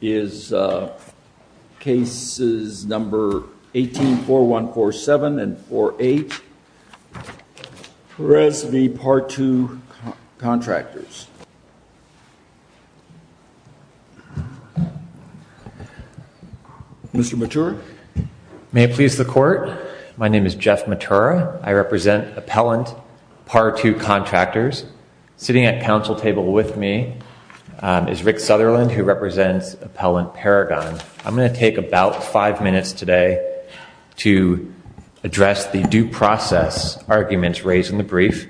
is uh cases number 18-4147 and 4-8 Perez v. Par 2 Contractors. Mr. Matura. May it please the court. My name is Jeff Matura. I represent Appellant Par 2 Contractors. Sitting at council table with me is Rick Sutherland who represents Appellant Paragon. I'm going to take about five minutes today to address the due process arguments raised in the brief.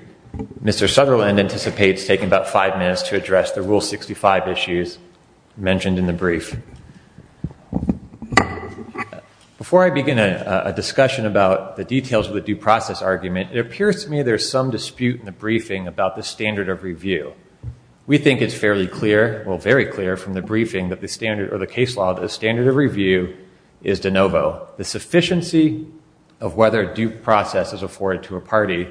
Mr. Sutherland anticipates taking about five minutes to address the Rule 65 issues mentioned in the brief. Before I begin a discussion about the details of the due process argument, it appears to me there's some dispute in the briefing about the standard of review. We think it's fairly clear, well very clear, from the briefing that the standard or the case law that the standard of review is de novo. The sufficiency of whether due process is afforded to a party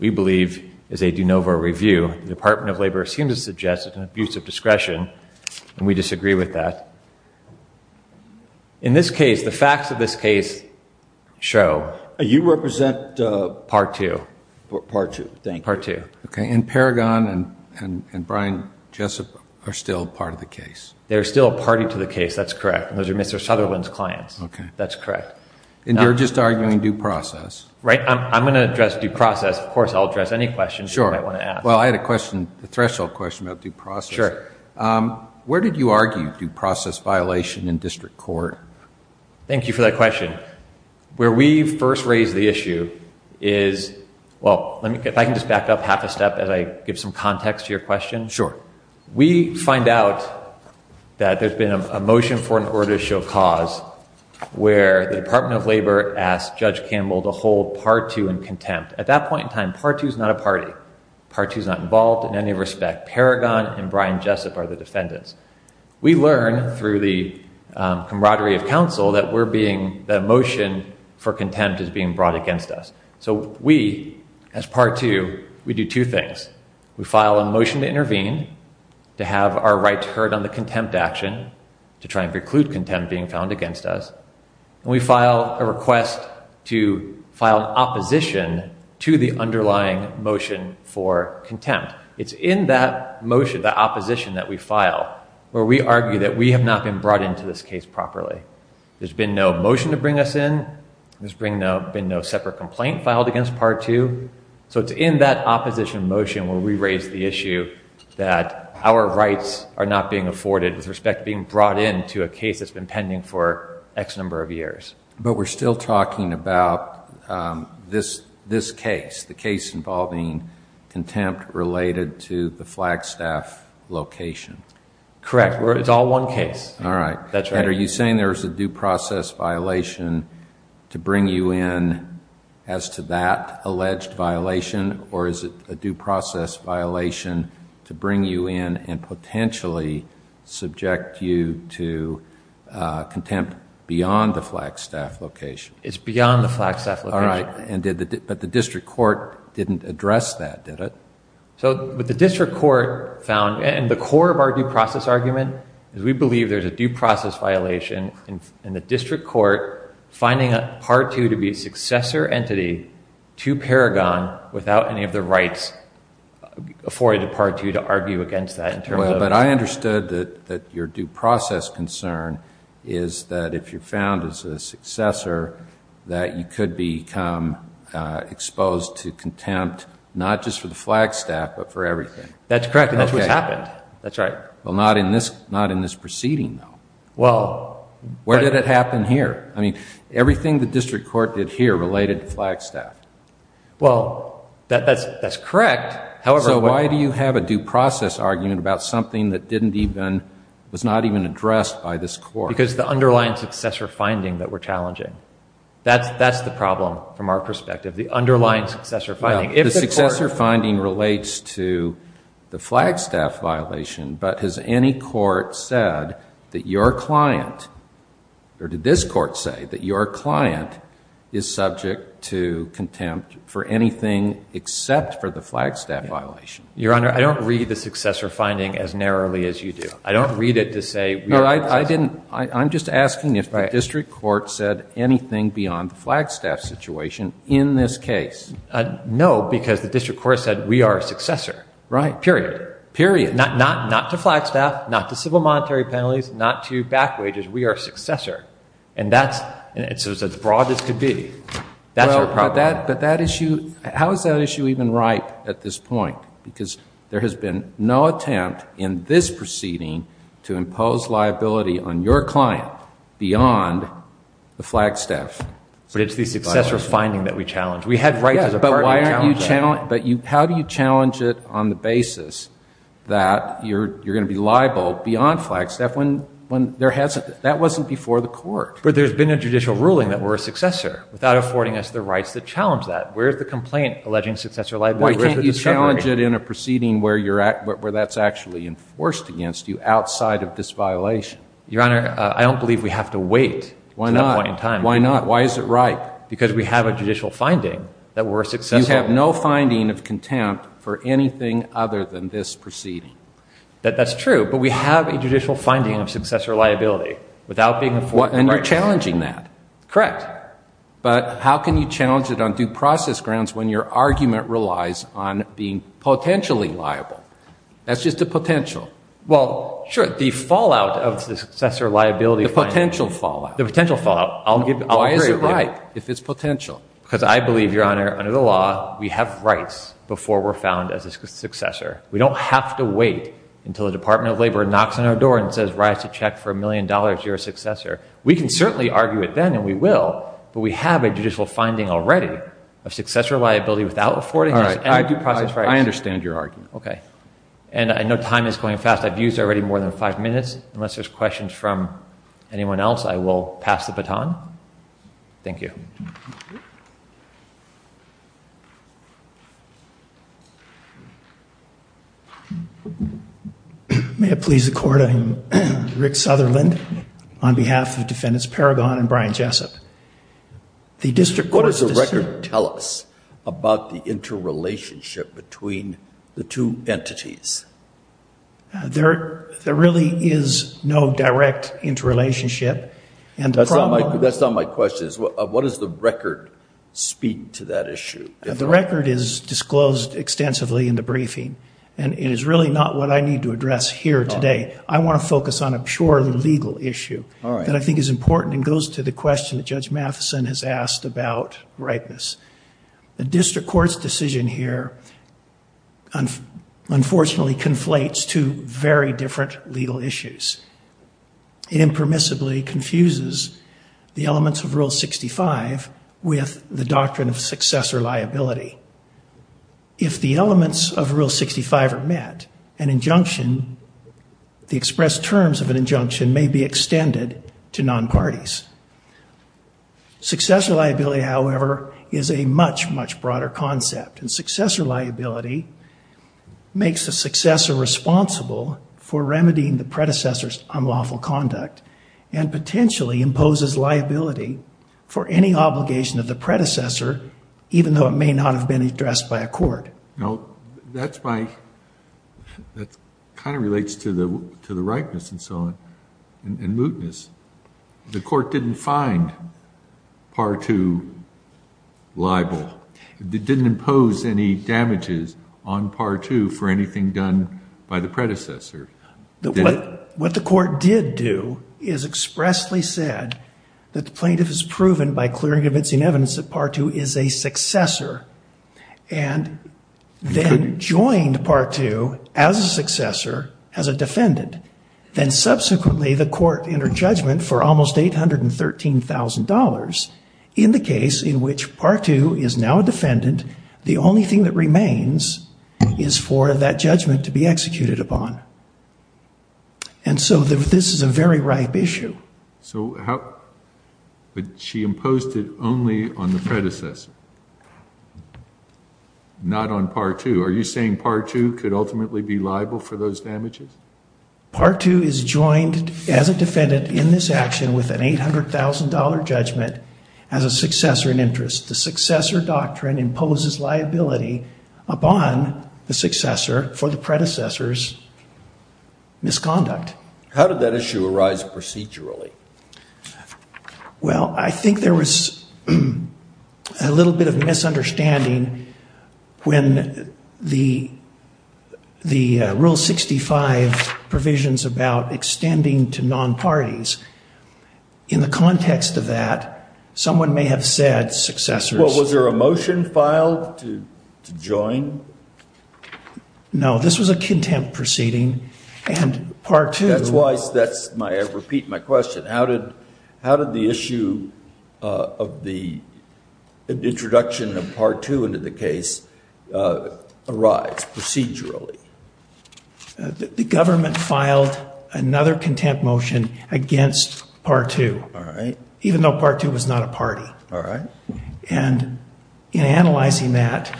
we believe is a de novo review. The Department of Labor seems to suggest it's an abuse of discretion and we disagree with that. In this case, the facts of this case show. You represent uh Par 2. Par 2. Thank you. Par 2. Okay and Paragon and Brian Jessup are still part of the case. They're still a party to the case. That's correct. Those are Mr. Sutherland's clients. Okay. That's correct. And you're just arguing due process. Right. I'm going to address due process. Of course I'll address any questions you might want to ask. Well I had a question, a threshold question about due process. Sure. Where did you argue due process violation in district court? Thank you for that well let me if I can just back up half a step as I give some context to your question. Sure. We find out that there's been a motion for an order to show cause where the Department of Labor asked Judge Campbell to hold Par 2 in contempt. At that point in time, Par 2 is not a party. Par 2 is not involved in any respect. Paragon and Brian Jessup are the defendants. We learn through the camaraderie of counsel that we're being the motion for contempt is being brought against us. So we, as Par 2, we do two things. We file a motion to intervene, to have our rights heard on the contempt action, to try and preclude contempt being found against us. And we file a request to file an opposition to the underlying motion for contempt. It's in that motion, the opposition that we file, where we argue that we have not been brought into this case properly. There's been no motion to bring us in. There's been no separate complaint filed against Par 2. So it's in that opposition motion where we raise the issue that our rights are not being afforded with respect to being brought into a case that's been pending for x number of years. But we're still talking about this case, the case involving contempt related to the Flagstaff location. Correct. It's all one case. All right. That's right. Are you saying there's a due process violation to bring you in as to that alleged violation or is it a due process violation to bring you in and potentially subject you to contempt beyond the Flagstaff location? It's beyond the Flagstaff location. All right. But the district court didn't address that, did it? So what the district court found, and the core of our due process argument, is we believe there's a due process violation in the district court finding Par 2 to be a successor entity to Paragon without any of the rights afforded to Par 2 to argue against that. But I understood that your due process concern is that if you're found as a successor that you become exposed to contempt not just for the Flagstaff but for everything. That's correct. And that's what's happened. That's right. Well, not in this proceeding though. Where did it happen here? I mean, everything the district court did here related to Flagstaff. Well, that's correct. However... So why do you have a due process argument about something that was not even addressed by this court? Because the underlying successor finding that we're challenging. That's the problem from our perspective. The underlying successor finding. The successor finding relates to the Flagstaff violation, but has any court said that your client, or did this court say, that your client is subject to contempt for anything except for the Flagstaff violation? Your Honor, I don't read the successor finding as narrowly as you do. I don't read it to say... I'm just asking if the district court said anything beyond the Flagstaff situation in this case. No, because the district court said we are a successor. Right. Period. Period. Not to Flagstaff, not to civil monetary penalties, not to back wages. We are a successor. And that's as broad as could be. That's our problem. But that issue, how is that issue even ripe at this point? Because there has been no attempt in this proceeding to impose liability on your client beyond the Flagstaff. But it's the successor finding that we challenge. We had rights as a party to challenge that. But how do you challenge it on the basis that you're going to be liable beyond Flagstaff when there hasn't... That wasn't before the court. But there's been a judicial ruling that we're a successor without affording us the rights that challenge that. Where's the complaint alleging successor liability? Why can't you challenge it in a proceeding where that's actually enforced against you outside of this violation? Your Honor, I don't believe we have to wait to that point in time. Why not? Why is it ripe? Because we have a judicial finding that we're a successor. You have no finding of contempt for anything other than this proceeding. That's true, but we have a judicial finding of successor liability without being afforded rights. And you're challenging that. Correct. But how can you challenge it on due process grounds when your argument relies on being potentially liable? That's just a potential. Well, sure. The fallout of the successor liability... The potential fallout. The potential fallout. I'll agree with you. Why is it ripe if it's potential? Because I believe, Your Honor, under the law, we have rights before we're found as a successor. We don't have to wait until the Department of Labor knocks on our door and says, to check for a million dollars, you're a successor. We can certainly argue it then, and we will, but we have a judicial finding already of successor liability without affording us any due process rights. I understand your argument. Okay. And I know time is going fast. I've used already more than five minutes. Unless there's questions from anyone else, I will pass the baton. Thank you. May it please the Court, I'm Rick Sutherland on behalf of Defendants Paragon and Brian Jessup. The District Court has... What does the record tell us about the interrelationship between the two entities? There really is no direct interrelationship, and the problem... The record is disclosed extensively in the briefing, and it is really not what I need to address here today. I want to focus on a purely legal issue that I think is important and goes to the question that Judge Matheson has asked about ripeness. The District Court's decision here, unfortunately, conflates two very different legal issues. It impermissibly confuses the elements of Rule 65 with the doctrine of successor liability. If the elements of Rule 65 are met, an injunction, the expressed terms of an injunction may be extended to non-parties. Successor liability, however, is a much, much broader concept, and successor liability makes a successor responsible for remedying the predecessor's unlawful conduct and potentially imposes liability for any obligation of the predecessor, even though it may not have been addressed by a court. Now, that's my... That kind of relates to the ripeness and so on, and mootness. The court didn't find Part 2 liable. It didn't impose any damages on Part 2 for anything done by the predecessor. What the court did do is expressly said that the plaintiff has proven by clearing and convincing evidence that Part 2 is a successor and then joined Part 2 as a successor, as a defendant. Then subsequently, the court entered judgment for almost $813,000 in the case in which Part 2 is now a defendant. The only thing that remains is for that judgment to be executed upon. And so this is a very ripe issue. So how... But she imposed it only on the predecessor, not on Part 2. Are you saying Part 2 could ultimately be liable for those damages? Part 2 is joined as a defendant in this action with an $800,000 judgment as a successor in interest. The successor doctrine imposes liability upon the successor for the predecessor's misconduct. How did that issue arise procedurally? Well, I think there was a little bit of misunderstanding when the Rule 65 provisions about extending to non-parties. In the context of that, someone may have said successors... Well, was there a motion filed to join? No, this was a contempt proceeding and Part 2... That's why... That's my... I repeat my question. How did the issue of the introduction of Part 2 into the case arise procedurally? The government filed another contempt motion against Part 2. All right. Even though Part 2 was not a party. All right. And in analyzing that,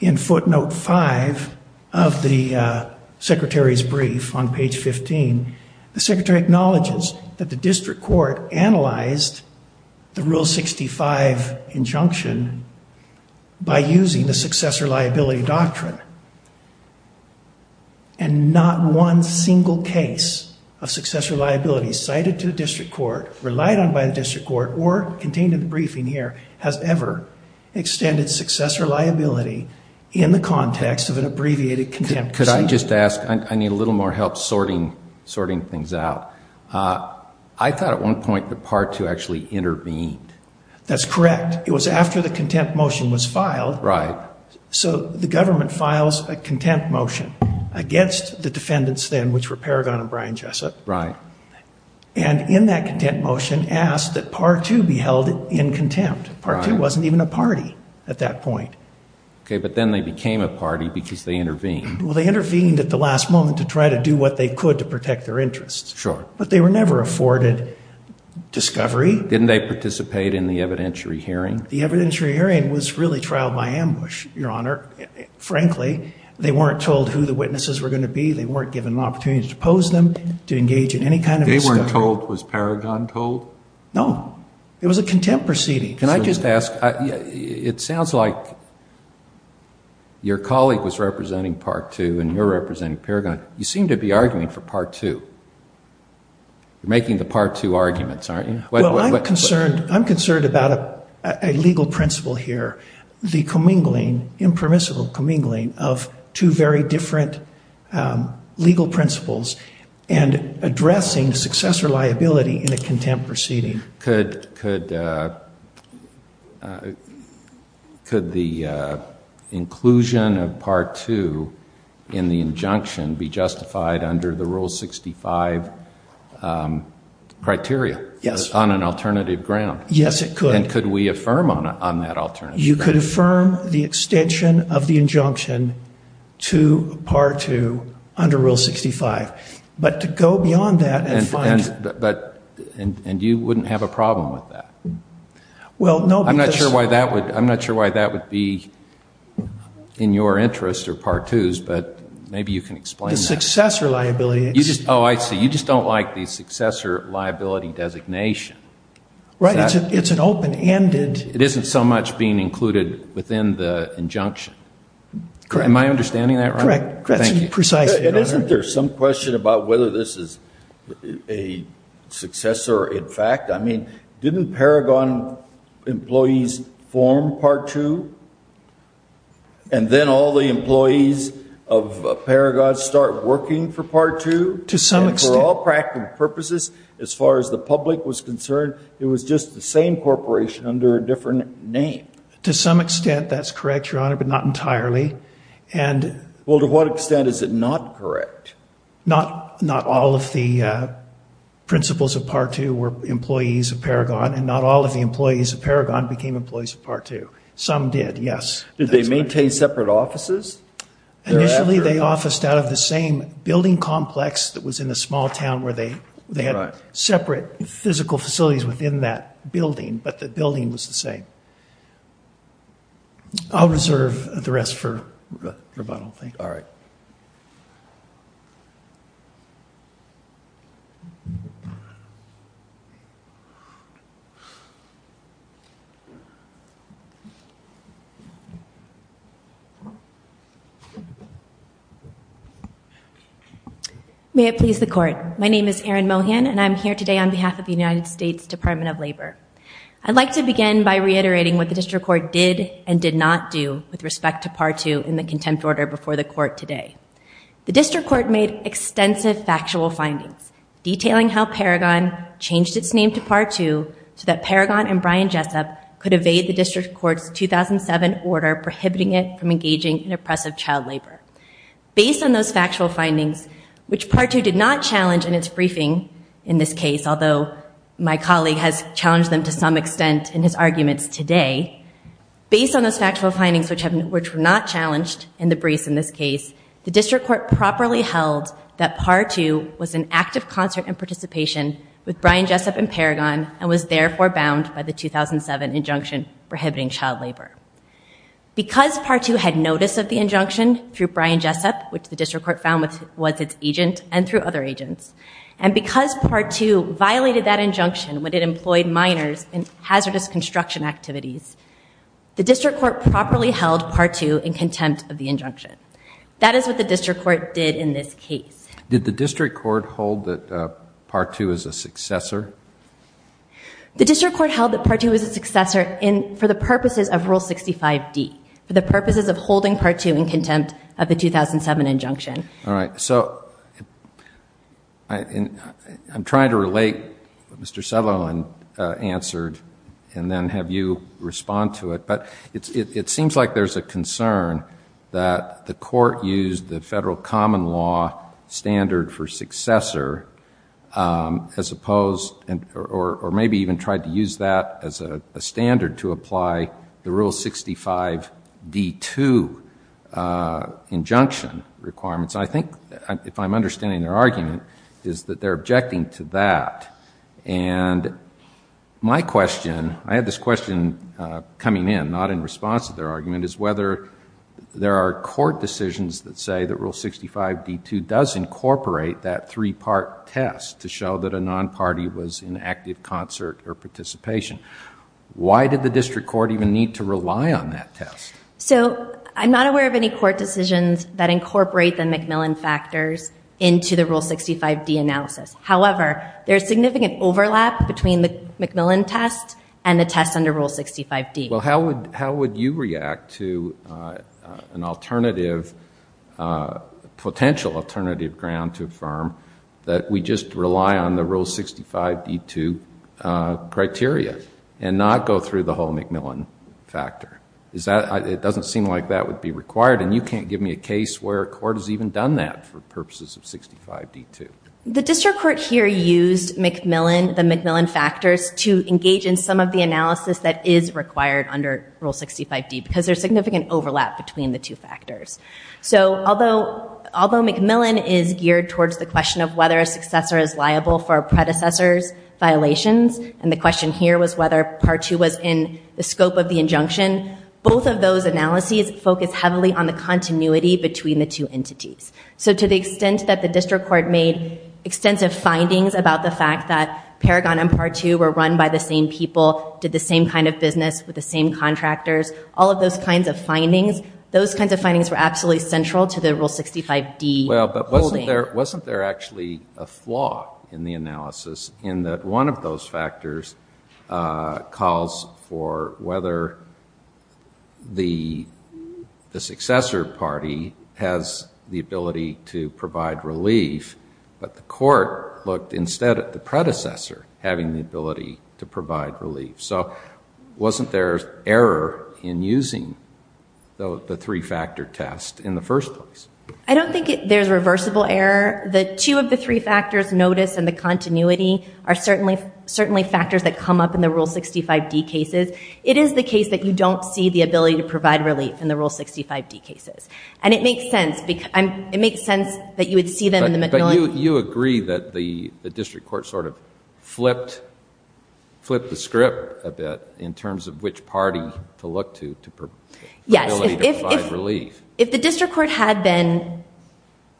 in footnote 5 of the Secretary's brief on page 15, the Secretary acknowledges that the district court analyzed the Rule 65 injunction by using the successor liability doctrine. And not one single case of successor liability cited to the district court, relied on by the district court, or contained in the briefing here, has ever extended successor liability in the context of an abbreviated contempt proceeding. Could I just ask, I need a little more help sorting things out. I thought at one point that Part 2 actually intervened. That's correct. It was after the contempt motion was filed. Right. So the government files a contempt motion against the defendants then, which were Paragon and Brian Jessup. Right. And in that contempt motion asked that Part 2 be held in contempt. Part 2 wasn't even a party at that point. Okay, but then they became a party because they intervened. They intervened at the last moment to try to do what they could to protect their interests. Sure. But they were never afforded discovery. Didn't they participate in the evidentiary hearing? The evidentiary hearing was really trial by ambush, Your Honor. Frankly, they weren't told who the witnesses were going to be. They weren't given an opportunity to pose them, to engage in any kind of discovery. They weren't told, was Paragon told? No, it was a contempt proceeding. Can I just ask, it sounds like your colleague was representing Part 2 and you're representing Paragon. You seem to be arguing for Part 2. You're making the Part 2 arguments, aren't you? Well, I'm concerned about a legal principle here, the commingling, impermissible commingling of two very different legal principles and addressing successor liability in a contempt proceeding. Could the inclusion of Part 2 in the injunction be justified under the Rule 65 criteria? Yes. On an alternative ground? Yes, it could. And could we affirm on that alternative? You could affirm the extension of the injunction to Part 2 under Rule 65. But to go beyond that and find... And you wouldn't have a problem with that? Well, no, because... I'm not sure why that would be in your interest or Part 2's, but maybe you can explain that. The successor liability... Oh, I see. You just don't like the successor liability designation. Right. It's an open-ended... It isn't so much being included within the injunction. Am I understanding that right? Correct. Thank you. Precisely. Isn't there some question about whether this is a successor, in fact? I mean, didn't Paragon employees form Part 2, and then all the employees of Paragon start working for Part 2? To some extent... And for all practical purposes, as far as the public was concerned, it was just the same corporation under a different name. To some extent, that's correct, Your Honor, but not entirely. And... Well, to what extent is it not correct? Not all of the principals of Part 2 were employees of Paragon, and not all of the employees of Paragon became employees of Part 2. Some did, yes. Did they maintain separate offices? Initially, they officed out of the same building complex that was in a small town where they had separate physical facilities within that building, but the building was the same. All right. I'll reserve the rest for rebuttal, thank you. All right. May it please the Court. My name is Erin Mohan, and I'm here today on behalf of the United States Department of Labor. I'd like to begin by reiterating what the District Court did and did not do with respect to Part 2 in the contempt order before the Court today. The District Court made extensive factual findings, detailing how Paragon changed its name to Part 2 so that Paragon and Brian Jessup could evade the District Court's 2007 order prohibiting it from engaging in oppressive child labor. Based on those factual findings, which Part 2 did not challenge in its briefing, in this case, although my colleague has challenged them to some extent in his arguments today, based on those factual findings, which were not challenged in the briefs in this case, the District Court properly held that Part 2 was an act of concert and participation with Brian Jessup and Paragon and was therefore bound by the 2007 injunction prohibiting child labor. Because Part 2 had notice of the injunction through Brian Jessup, which the District Court found was its agent, and through other agents, and because Part 2 violated that injunction when it employed minors in hazardous construction activities, the District Court properly held Part 2 in contempt of the injunction. That is what the District Court did in this case. Did the District Court hold that Part 2 is a successor? The District Court held that Part 2 was a successor for the purposes of Rule 65D, for the purposes of holding Part 2 in contempt of the 2007 injunction. All right. So I'm trying to relate what Mr. Sutherland answered and then have you respond to it. But it seems like there's a concern that the Court used the federal common law standard for successor as opposed, or maybe even tried to use that as a standard to apply the Rule 65D2 injunction requirements. I think, if I'm understanding their argument, is that they're objecting to that. And my question, I had this question coming in, not in response to their argument, is whether there are court decisions that say that Rule 65D2 does incorporate that three-part test to show that a non-party was in active concert or participation. Why did the District Court even need to rely on that test? So I'm not aware of any court decisions that incorporate the MacMillan factors into the Rule 65D analysis. However, there's significant overlap between the MacMillan test and the test under Rule 65D. Well, how would you react to an alternative, potential alternative ground to affirm that we just rely on the Rule 65D2 criteria and not go through the whole MacMillan factor? It doesn't seem like that would be required. And you can't give me a case where a court has even done that for purposes of 65D2. The District Court here used MacMillan, the MacMillan factors, to engage in some of the analysis that is required under Rule 65D, because there's significant overlap between the two factors. So although MacMillan is geared towards the question of whether a successor is liable for a predecessor's violations, and the question here was whether Part 2 was in the scope of the injunction, both of those analyses focus heavily on the continuity between the two entities. So to the extent that the District Court made extensive findings about the fact that Paragon and Part 2 were run by the same people, did the same kind of business with the same central to the Rule 65D holding? Well, but wasn't there actually a flaw in the analysis in that one of those factors calls for whether the successor party has the ability to provide relief, but the court looked instead at the predecessor having the ability to provide relief. So wasn't there error in using the three-factor test in the first place? I don't think there's reversible error. The two of the three factors, notice and the continuity, are certainly factors that come up in the Rule 65D cases. It is the case that you don't see the ability to provide relief in the Rule 65D cases. And it makes sense that you would see them in the MacMillan. You agree that the District Court sort of flipped the script a bit in terms of which party to look to for the ability to provide relief. If the District Court had been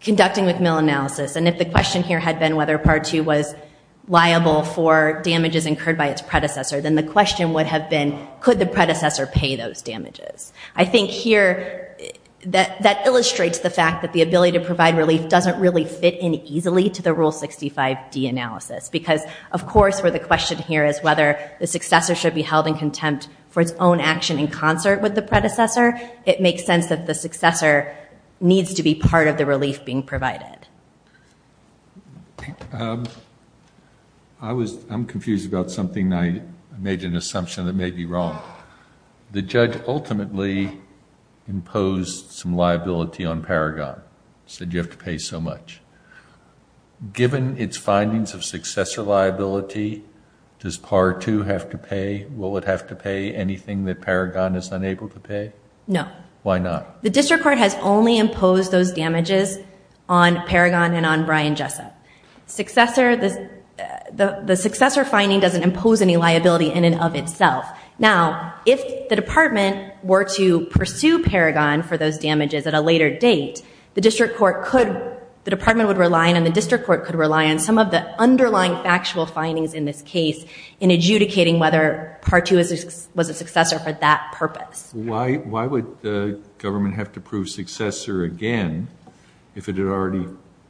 conducting MacMillan analysis, and if the question here had been whether Part 2 was liable for damages incurred by its predecessor, then the question would have been, could the predecessor pay those damages? I think here that illustrates the fact that the ability to provide relief doesn't really fit in easily to the Rule 65D analysis. Because, of course, where the question here is whether the successor should be held in contempt for its own action in concert with the predecessor, it makes sense that the successor needs to be part of the relief being provided. I was, I'm confused about something. I made an assumption that may be wrong. The judge ultimately imposed some liability on Paragon, said you have to pay so much. Given its findings of successor liability, does Part 2 have to pay? Will it have to pay anything that Paragon is unable to pay? No. Why not? The District Court has only imposed those damages on Paragon and on Brian Jessup. The successor finding doesn't impose any liability in and of itself. Now, if the Department were to pursue Paragon for those damages at a later date, the District Court could, the Department would rely on and the District Court could rely on some of the underlying factual findings in this case in adjudicating whether Part 2 was a successor for that purpose. Why would the government have to prove successor again if it had already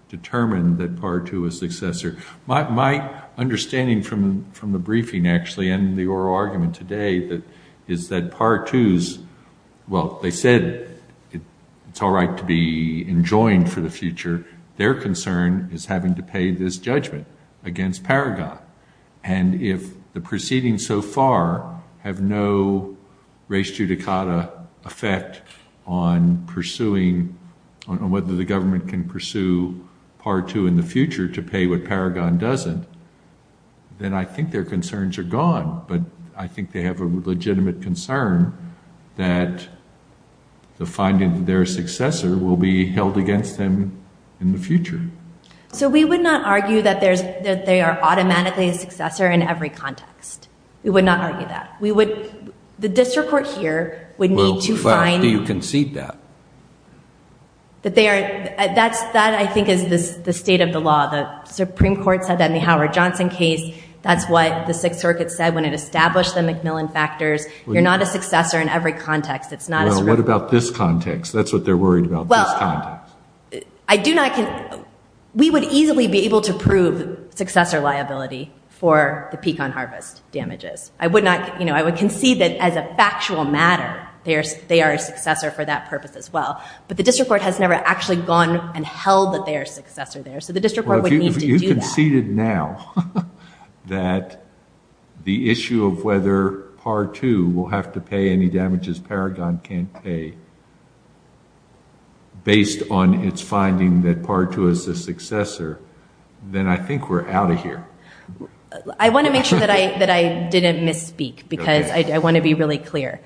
determined that Part 2 was successor? My understanding from the briefing actually and the oral argument today is that Part 2's, well, they said it's all right to be enjoined for the future. Their concern is having to pay this judgment against Paragon. And if the proceedings so far have no res judicata effect on pursuing, on whether the government can pursue Part 2 in the future to pay what Paragon doesn't, then I think their concerns are gone. But I think they have a legitimate concern that the finding that they're a successor will be held against them in the future. So we would not argue that they are automatically a successor in every context. We would not argue that. We would, the District Court here would need to find... Well, how do you concede that? That they are, that I think is the state of the law. The Supreme Court said that in the Howard Johnson case. That's what the Sixth Circuit said when it established the Macmillan factors. You're not a successor in every context. It's not a... Well, what about this context? That's what they're worried about, this context. I do not, we would easily be able to prove successor liability for the Pecan Harvest damages. I would not, you know, I would concede that as a factual matter, they are a successor for that purpose as well. But the District Court has never actually gone and held that they are a successor there. So the District Court would need to do that. Well, if you conceded now that the issue of whether Part 2 will have to pay any damages Paragon can't pay based on its finding that Part 2 is a successor, then I think we're out of here. I want to make sure that I didn't misspeak because I want to be really clear.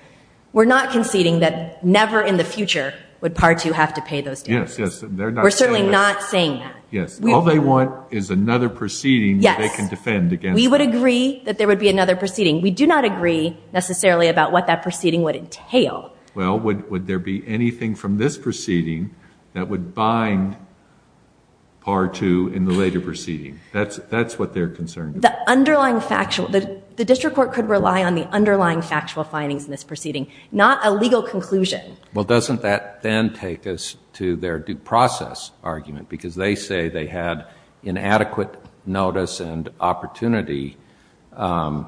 We're not conceding that never in the future would Part 2 have to pay those damages. Yes, yes. They're not saying that. We're certainly not saying that. Yes. All they want is another proceeding that they can defend against. Yes. We would agree that there would be another proceeding. We do not agree necessarily about what that proceeding would entail. Well, would there be anything from this proceeding that would bind Part 2 in the later proceeding? That's what they're concerned about. The District Court could rely on the underlying factual findings in this proceeding, not a legal conclusion. Well, doesn't that then take us to their due process argument? Because they say they had inadequate notice and opportunity in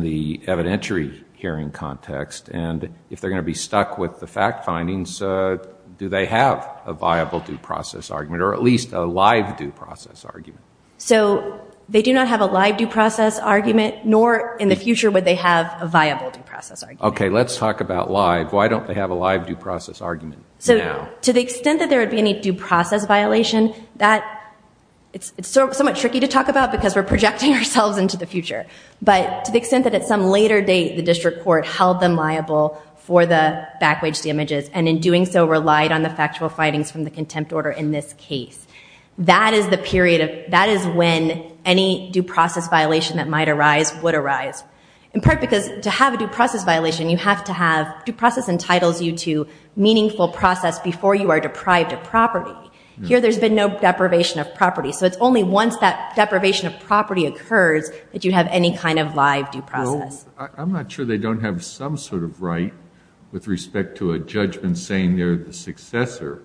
the evidentiary hearing context. And if they're going to be stuck with the fact findings, do they have a viable due process argument or at least a live due process argument? So they do not have a live due process argument, nor in the future would they have a viable due process argument. OK. Let's talk about live. Why don't they have a live due process argument now? To the extent that there would be any due process violation, it's somewhat tricky to talk about because we're projecting ourselves into the future. But to the extent that at some later date, the District Court held them liable for the back-waged damages and in doing so relied on the factual findings from the contempt order in this case. That is the period of, that is when any due process violation that might arise would arise. In part because to have a due process violation, you have to have, due process entitles you to meaningful process before you are deprived of property. Here there's been no deprivation of property. So it's only once that deprivation of property occurs that you have any kind of live due process. No, I'm not sure they don't have some sort of right with respect to a judgment saying they're the successor,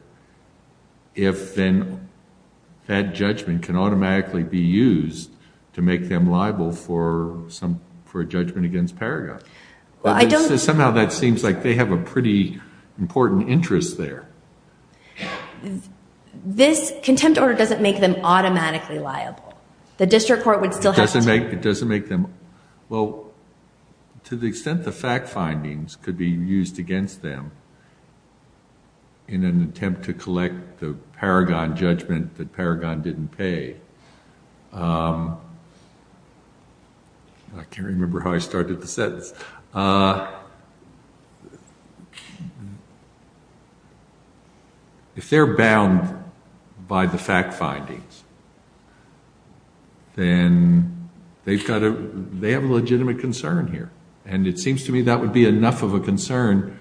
if then that judgment can automatically be used to make them liable for some, for a judgment against Paragon. Well, I don't... Somehow that seems like they have a pretty important interest there. This contempt order doesn't make them automatically liable. The District Court would still have to... It doesn't make them... Well, to the extent the fact findings could be used against them in an attempt to collect the Paragon judgment that Paragon didn't pay. I can't remember how I started the sentence. If they're bound by the fact findings, then they have a legitimate concern here. And it seems to me that would be enough of a concern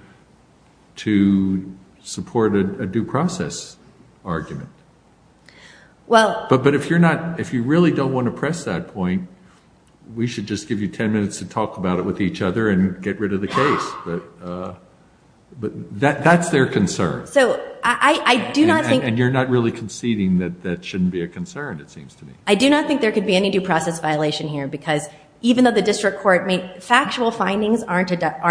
to support a due process argument. But if you really don't want to press that point, we should just give you 10 minutes to talk about it with each other and get rid of the case. That's their concern. So I do not think... And you're not really conceding that that shouldn't be a concern, it seems to me. I do not think there could be any due process violation here because even though the District Court made... Factual findings are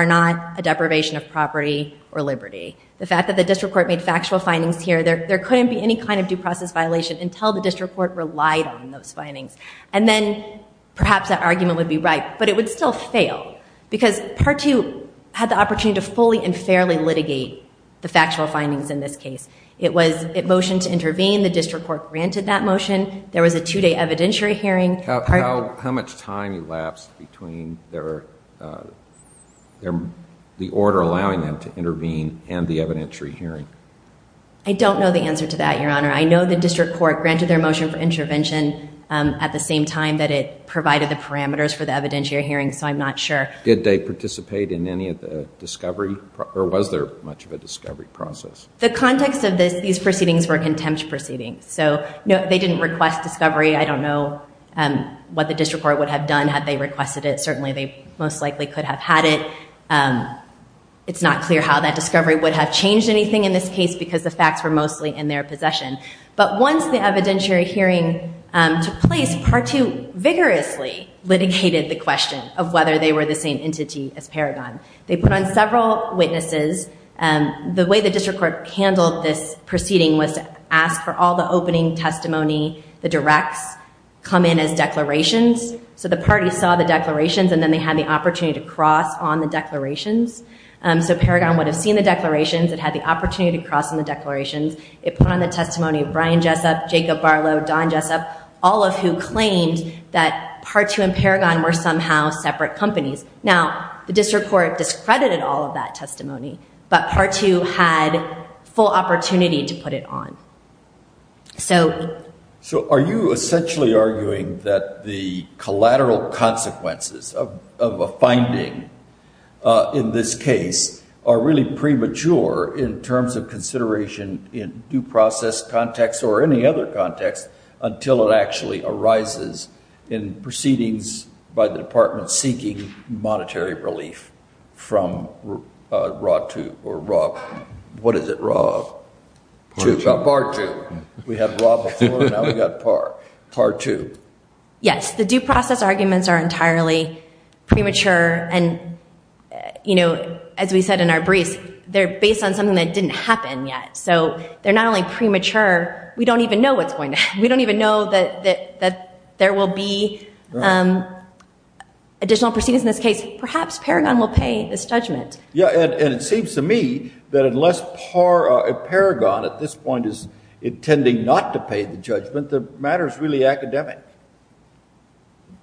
not a deprivation of property or liberty. The fact that the District Court made factual findings here, there couldn't be any kind of due process violation until the District Court relied on those findings. And then perhaps that argument would be right. But it would still fail because Part 2 had the opportunity to fully and fairly litigate the factual findings in this case. It was a motion to intervene. The District Court granted that motion. There was a two-day evidentiary hearing. How much time elapsed between the order allowing them to intervene and the evidentiary hearing? I don't know the answer to that, Your Honor. I know the District Court granted their motion for intervention at the same time that it was a two-day evidentiary hearing, so I'm not sure. Did they participate in any of the discovery or was there much of a discovery process? The context of these proceedings were contempt proceedings. So they didn't request discovery. I don't know what the District Court would have done had they requested it. Certainly they most likely could have had it. It's not clear how that discovery would have changed anything in this case because the facts were mostly in their possession. But once the evidentiary hearing took place, Part 2 vigorously litigated the question of whether they were the same entity as Paragon. They put on several witnesses. The way the District Court handled this proceeding was to ask for all the opening testimony, the directs, come in as declarations. So the party saw the declarations and then they had the opportunity to cross on the declarations. So Paragon would have seen the declarations. It had the opportunity to cross on the declarations. It put on the testimony of Brian Jessup, Jacob Barlow, Don Jessup, all of who claimed that Part 2 and Paragon were somehow separate companies. Now the District Court discredited all of that testimony, but Part 2 had full opportunity to put it on. So are you essentially arguing that the collateral consequences of a finding in this case are really premature in terms of consideration in due process context or any other context until it actually arises in proceedings by the department seeking monetary relief from RAH 2 or RAH, what is it, RAH 2, PAR 2. We had RAH before, now we got PAR, PAR 2. Yes, the due process arguments are entirely premature. And as we said in our briefs, they're based on something that didn't happen yet. So they're not only premature, we don't even know what's going to happen. We don't even know that there will be additional proceedings in this case. Perhaps Paragon will pay this judgment. Yeah, and it seems to me that unless Paragon, at this point, is intending not to pay the judgment, the matter is really academic.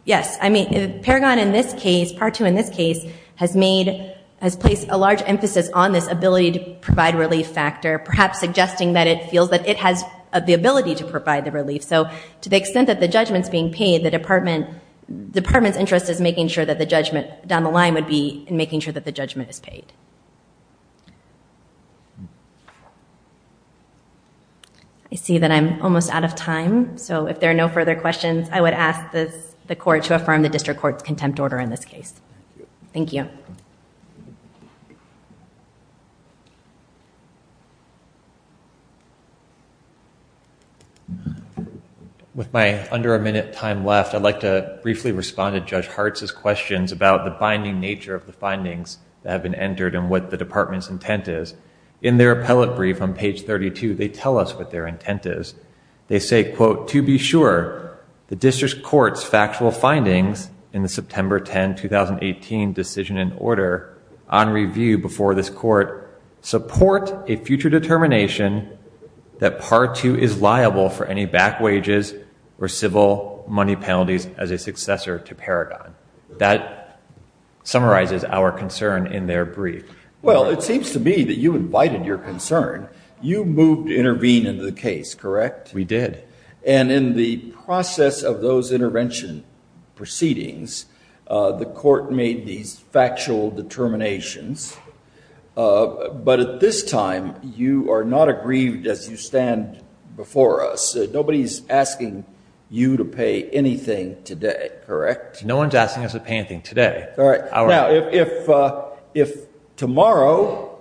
Yes, I mean, Paragon in this case, PAR 2 in this case, has placed a large emphasis on this ability to provide relief factor, perhaps suggesting that it feels that it has the ability to provide the relief. So to the extent that the judgment's being paid, the department's interest is making sure that the judgment down the line would be in making sure that the judgment is paid. I see that I'm almost out of time. So if there are no further questions, I would ask the court to affirm the district court's contempt order in this case. Thank you. With my under a minute time left, I'd like to briefly respond to Judge Hartz's questions about the binding nature of the findings that have been entered and what the department's intent is. In their appellate brief on page 32, they tell us what their intent is. They say, quote, to be sure the district court's factual findings in the September 10, 2018 decision and order on review before this court support a future determination that PAR 2 is liable for any back wages or civil money penalties as a successor to Paragon. That summarizes our concern in their brief. Well, it seems to me that you invited your concern. You moved to intervene in the case, correct? We did. And in the process of those intervention proceedings, the court made these factual determinations. But at this time, you are not aggrieved as you stand before us. Nobody's asking you to pay anything today, correct? No one's asking us to pay anything today. All right. Now, if tomorrow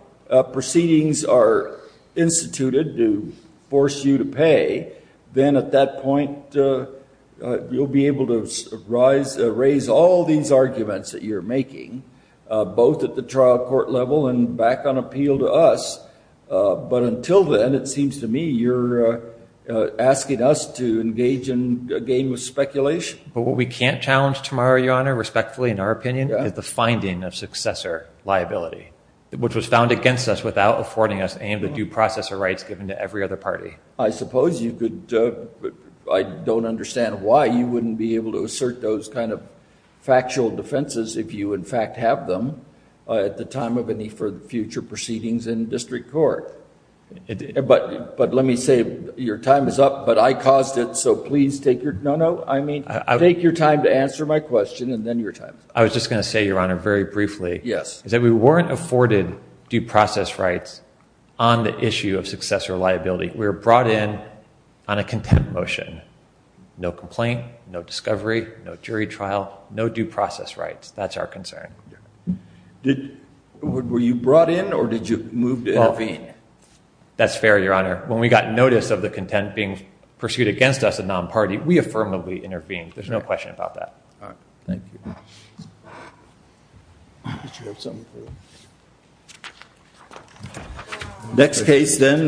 proceedings are instituted to force you to pay, then at that point, you'll be able to raise all these arguments that you're making, both at the trial court level and back on appeal to us. But until then, it seems to me you're asking us to engage in a game of speculation. But what we can't challenge tomorrow, Your Honor, respectfully, in our opinion, is the finding of successor liability, which was found against us without affording us any of the due process or rights given to every other party. I suppose you could, but I don't understand why you wouldn't be able to assert those kind of factual defenses if you, in fact, have them at the time of any future proceedings in district court. But let me say, your time is up, but I caused it. So please take your... No, no. I mean, take your time to answer my question and then your time. I was just going to say, your Honor, very briefly, is that we weren't afforded due process rights on the issue of successor liability. We were brought in on a contempt motion. No complaint, no discovery, no jury trial, no due process rights. That's our concern. Were you brought in or did you move to intervene? That's fair, your Honor. When we got notice of the contempt being pursued against us, a non-party, we affirmably intervened. There's no question about that. All right. Thank you. Next case then.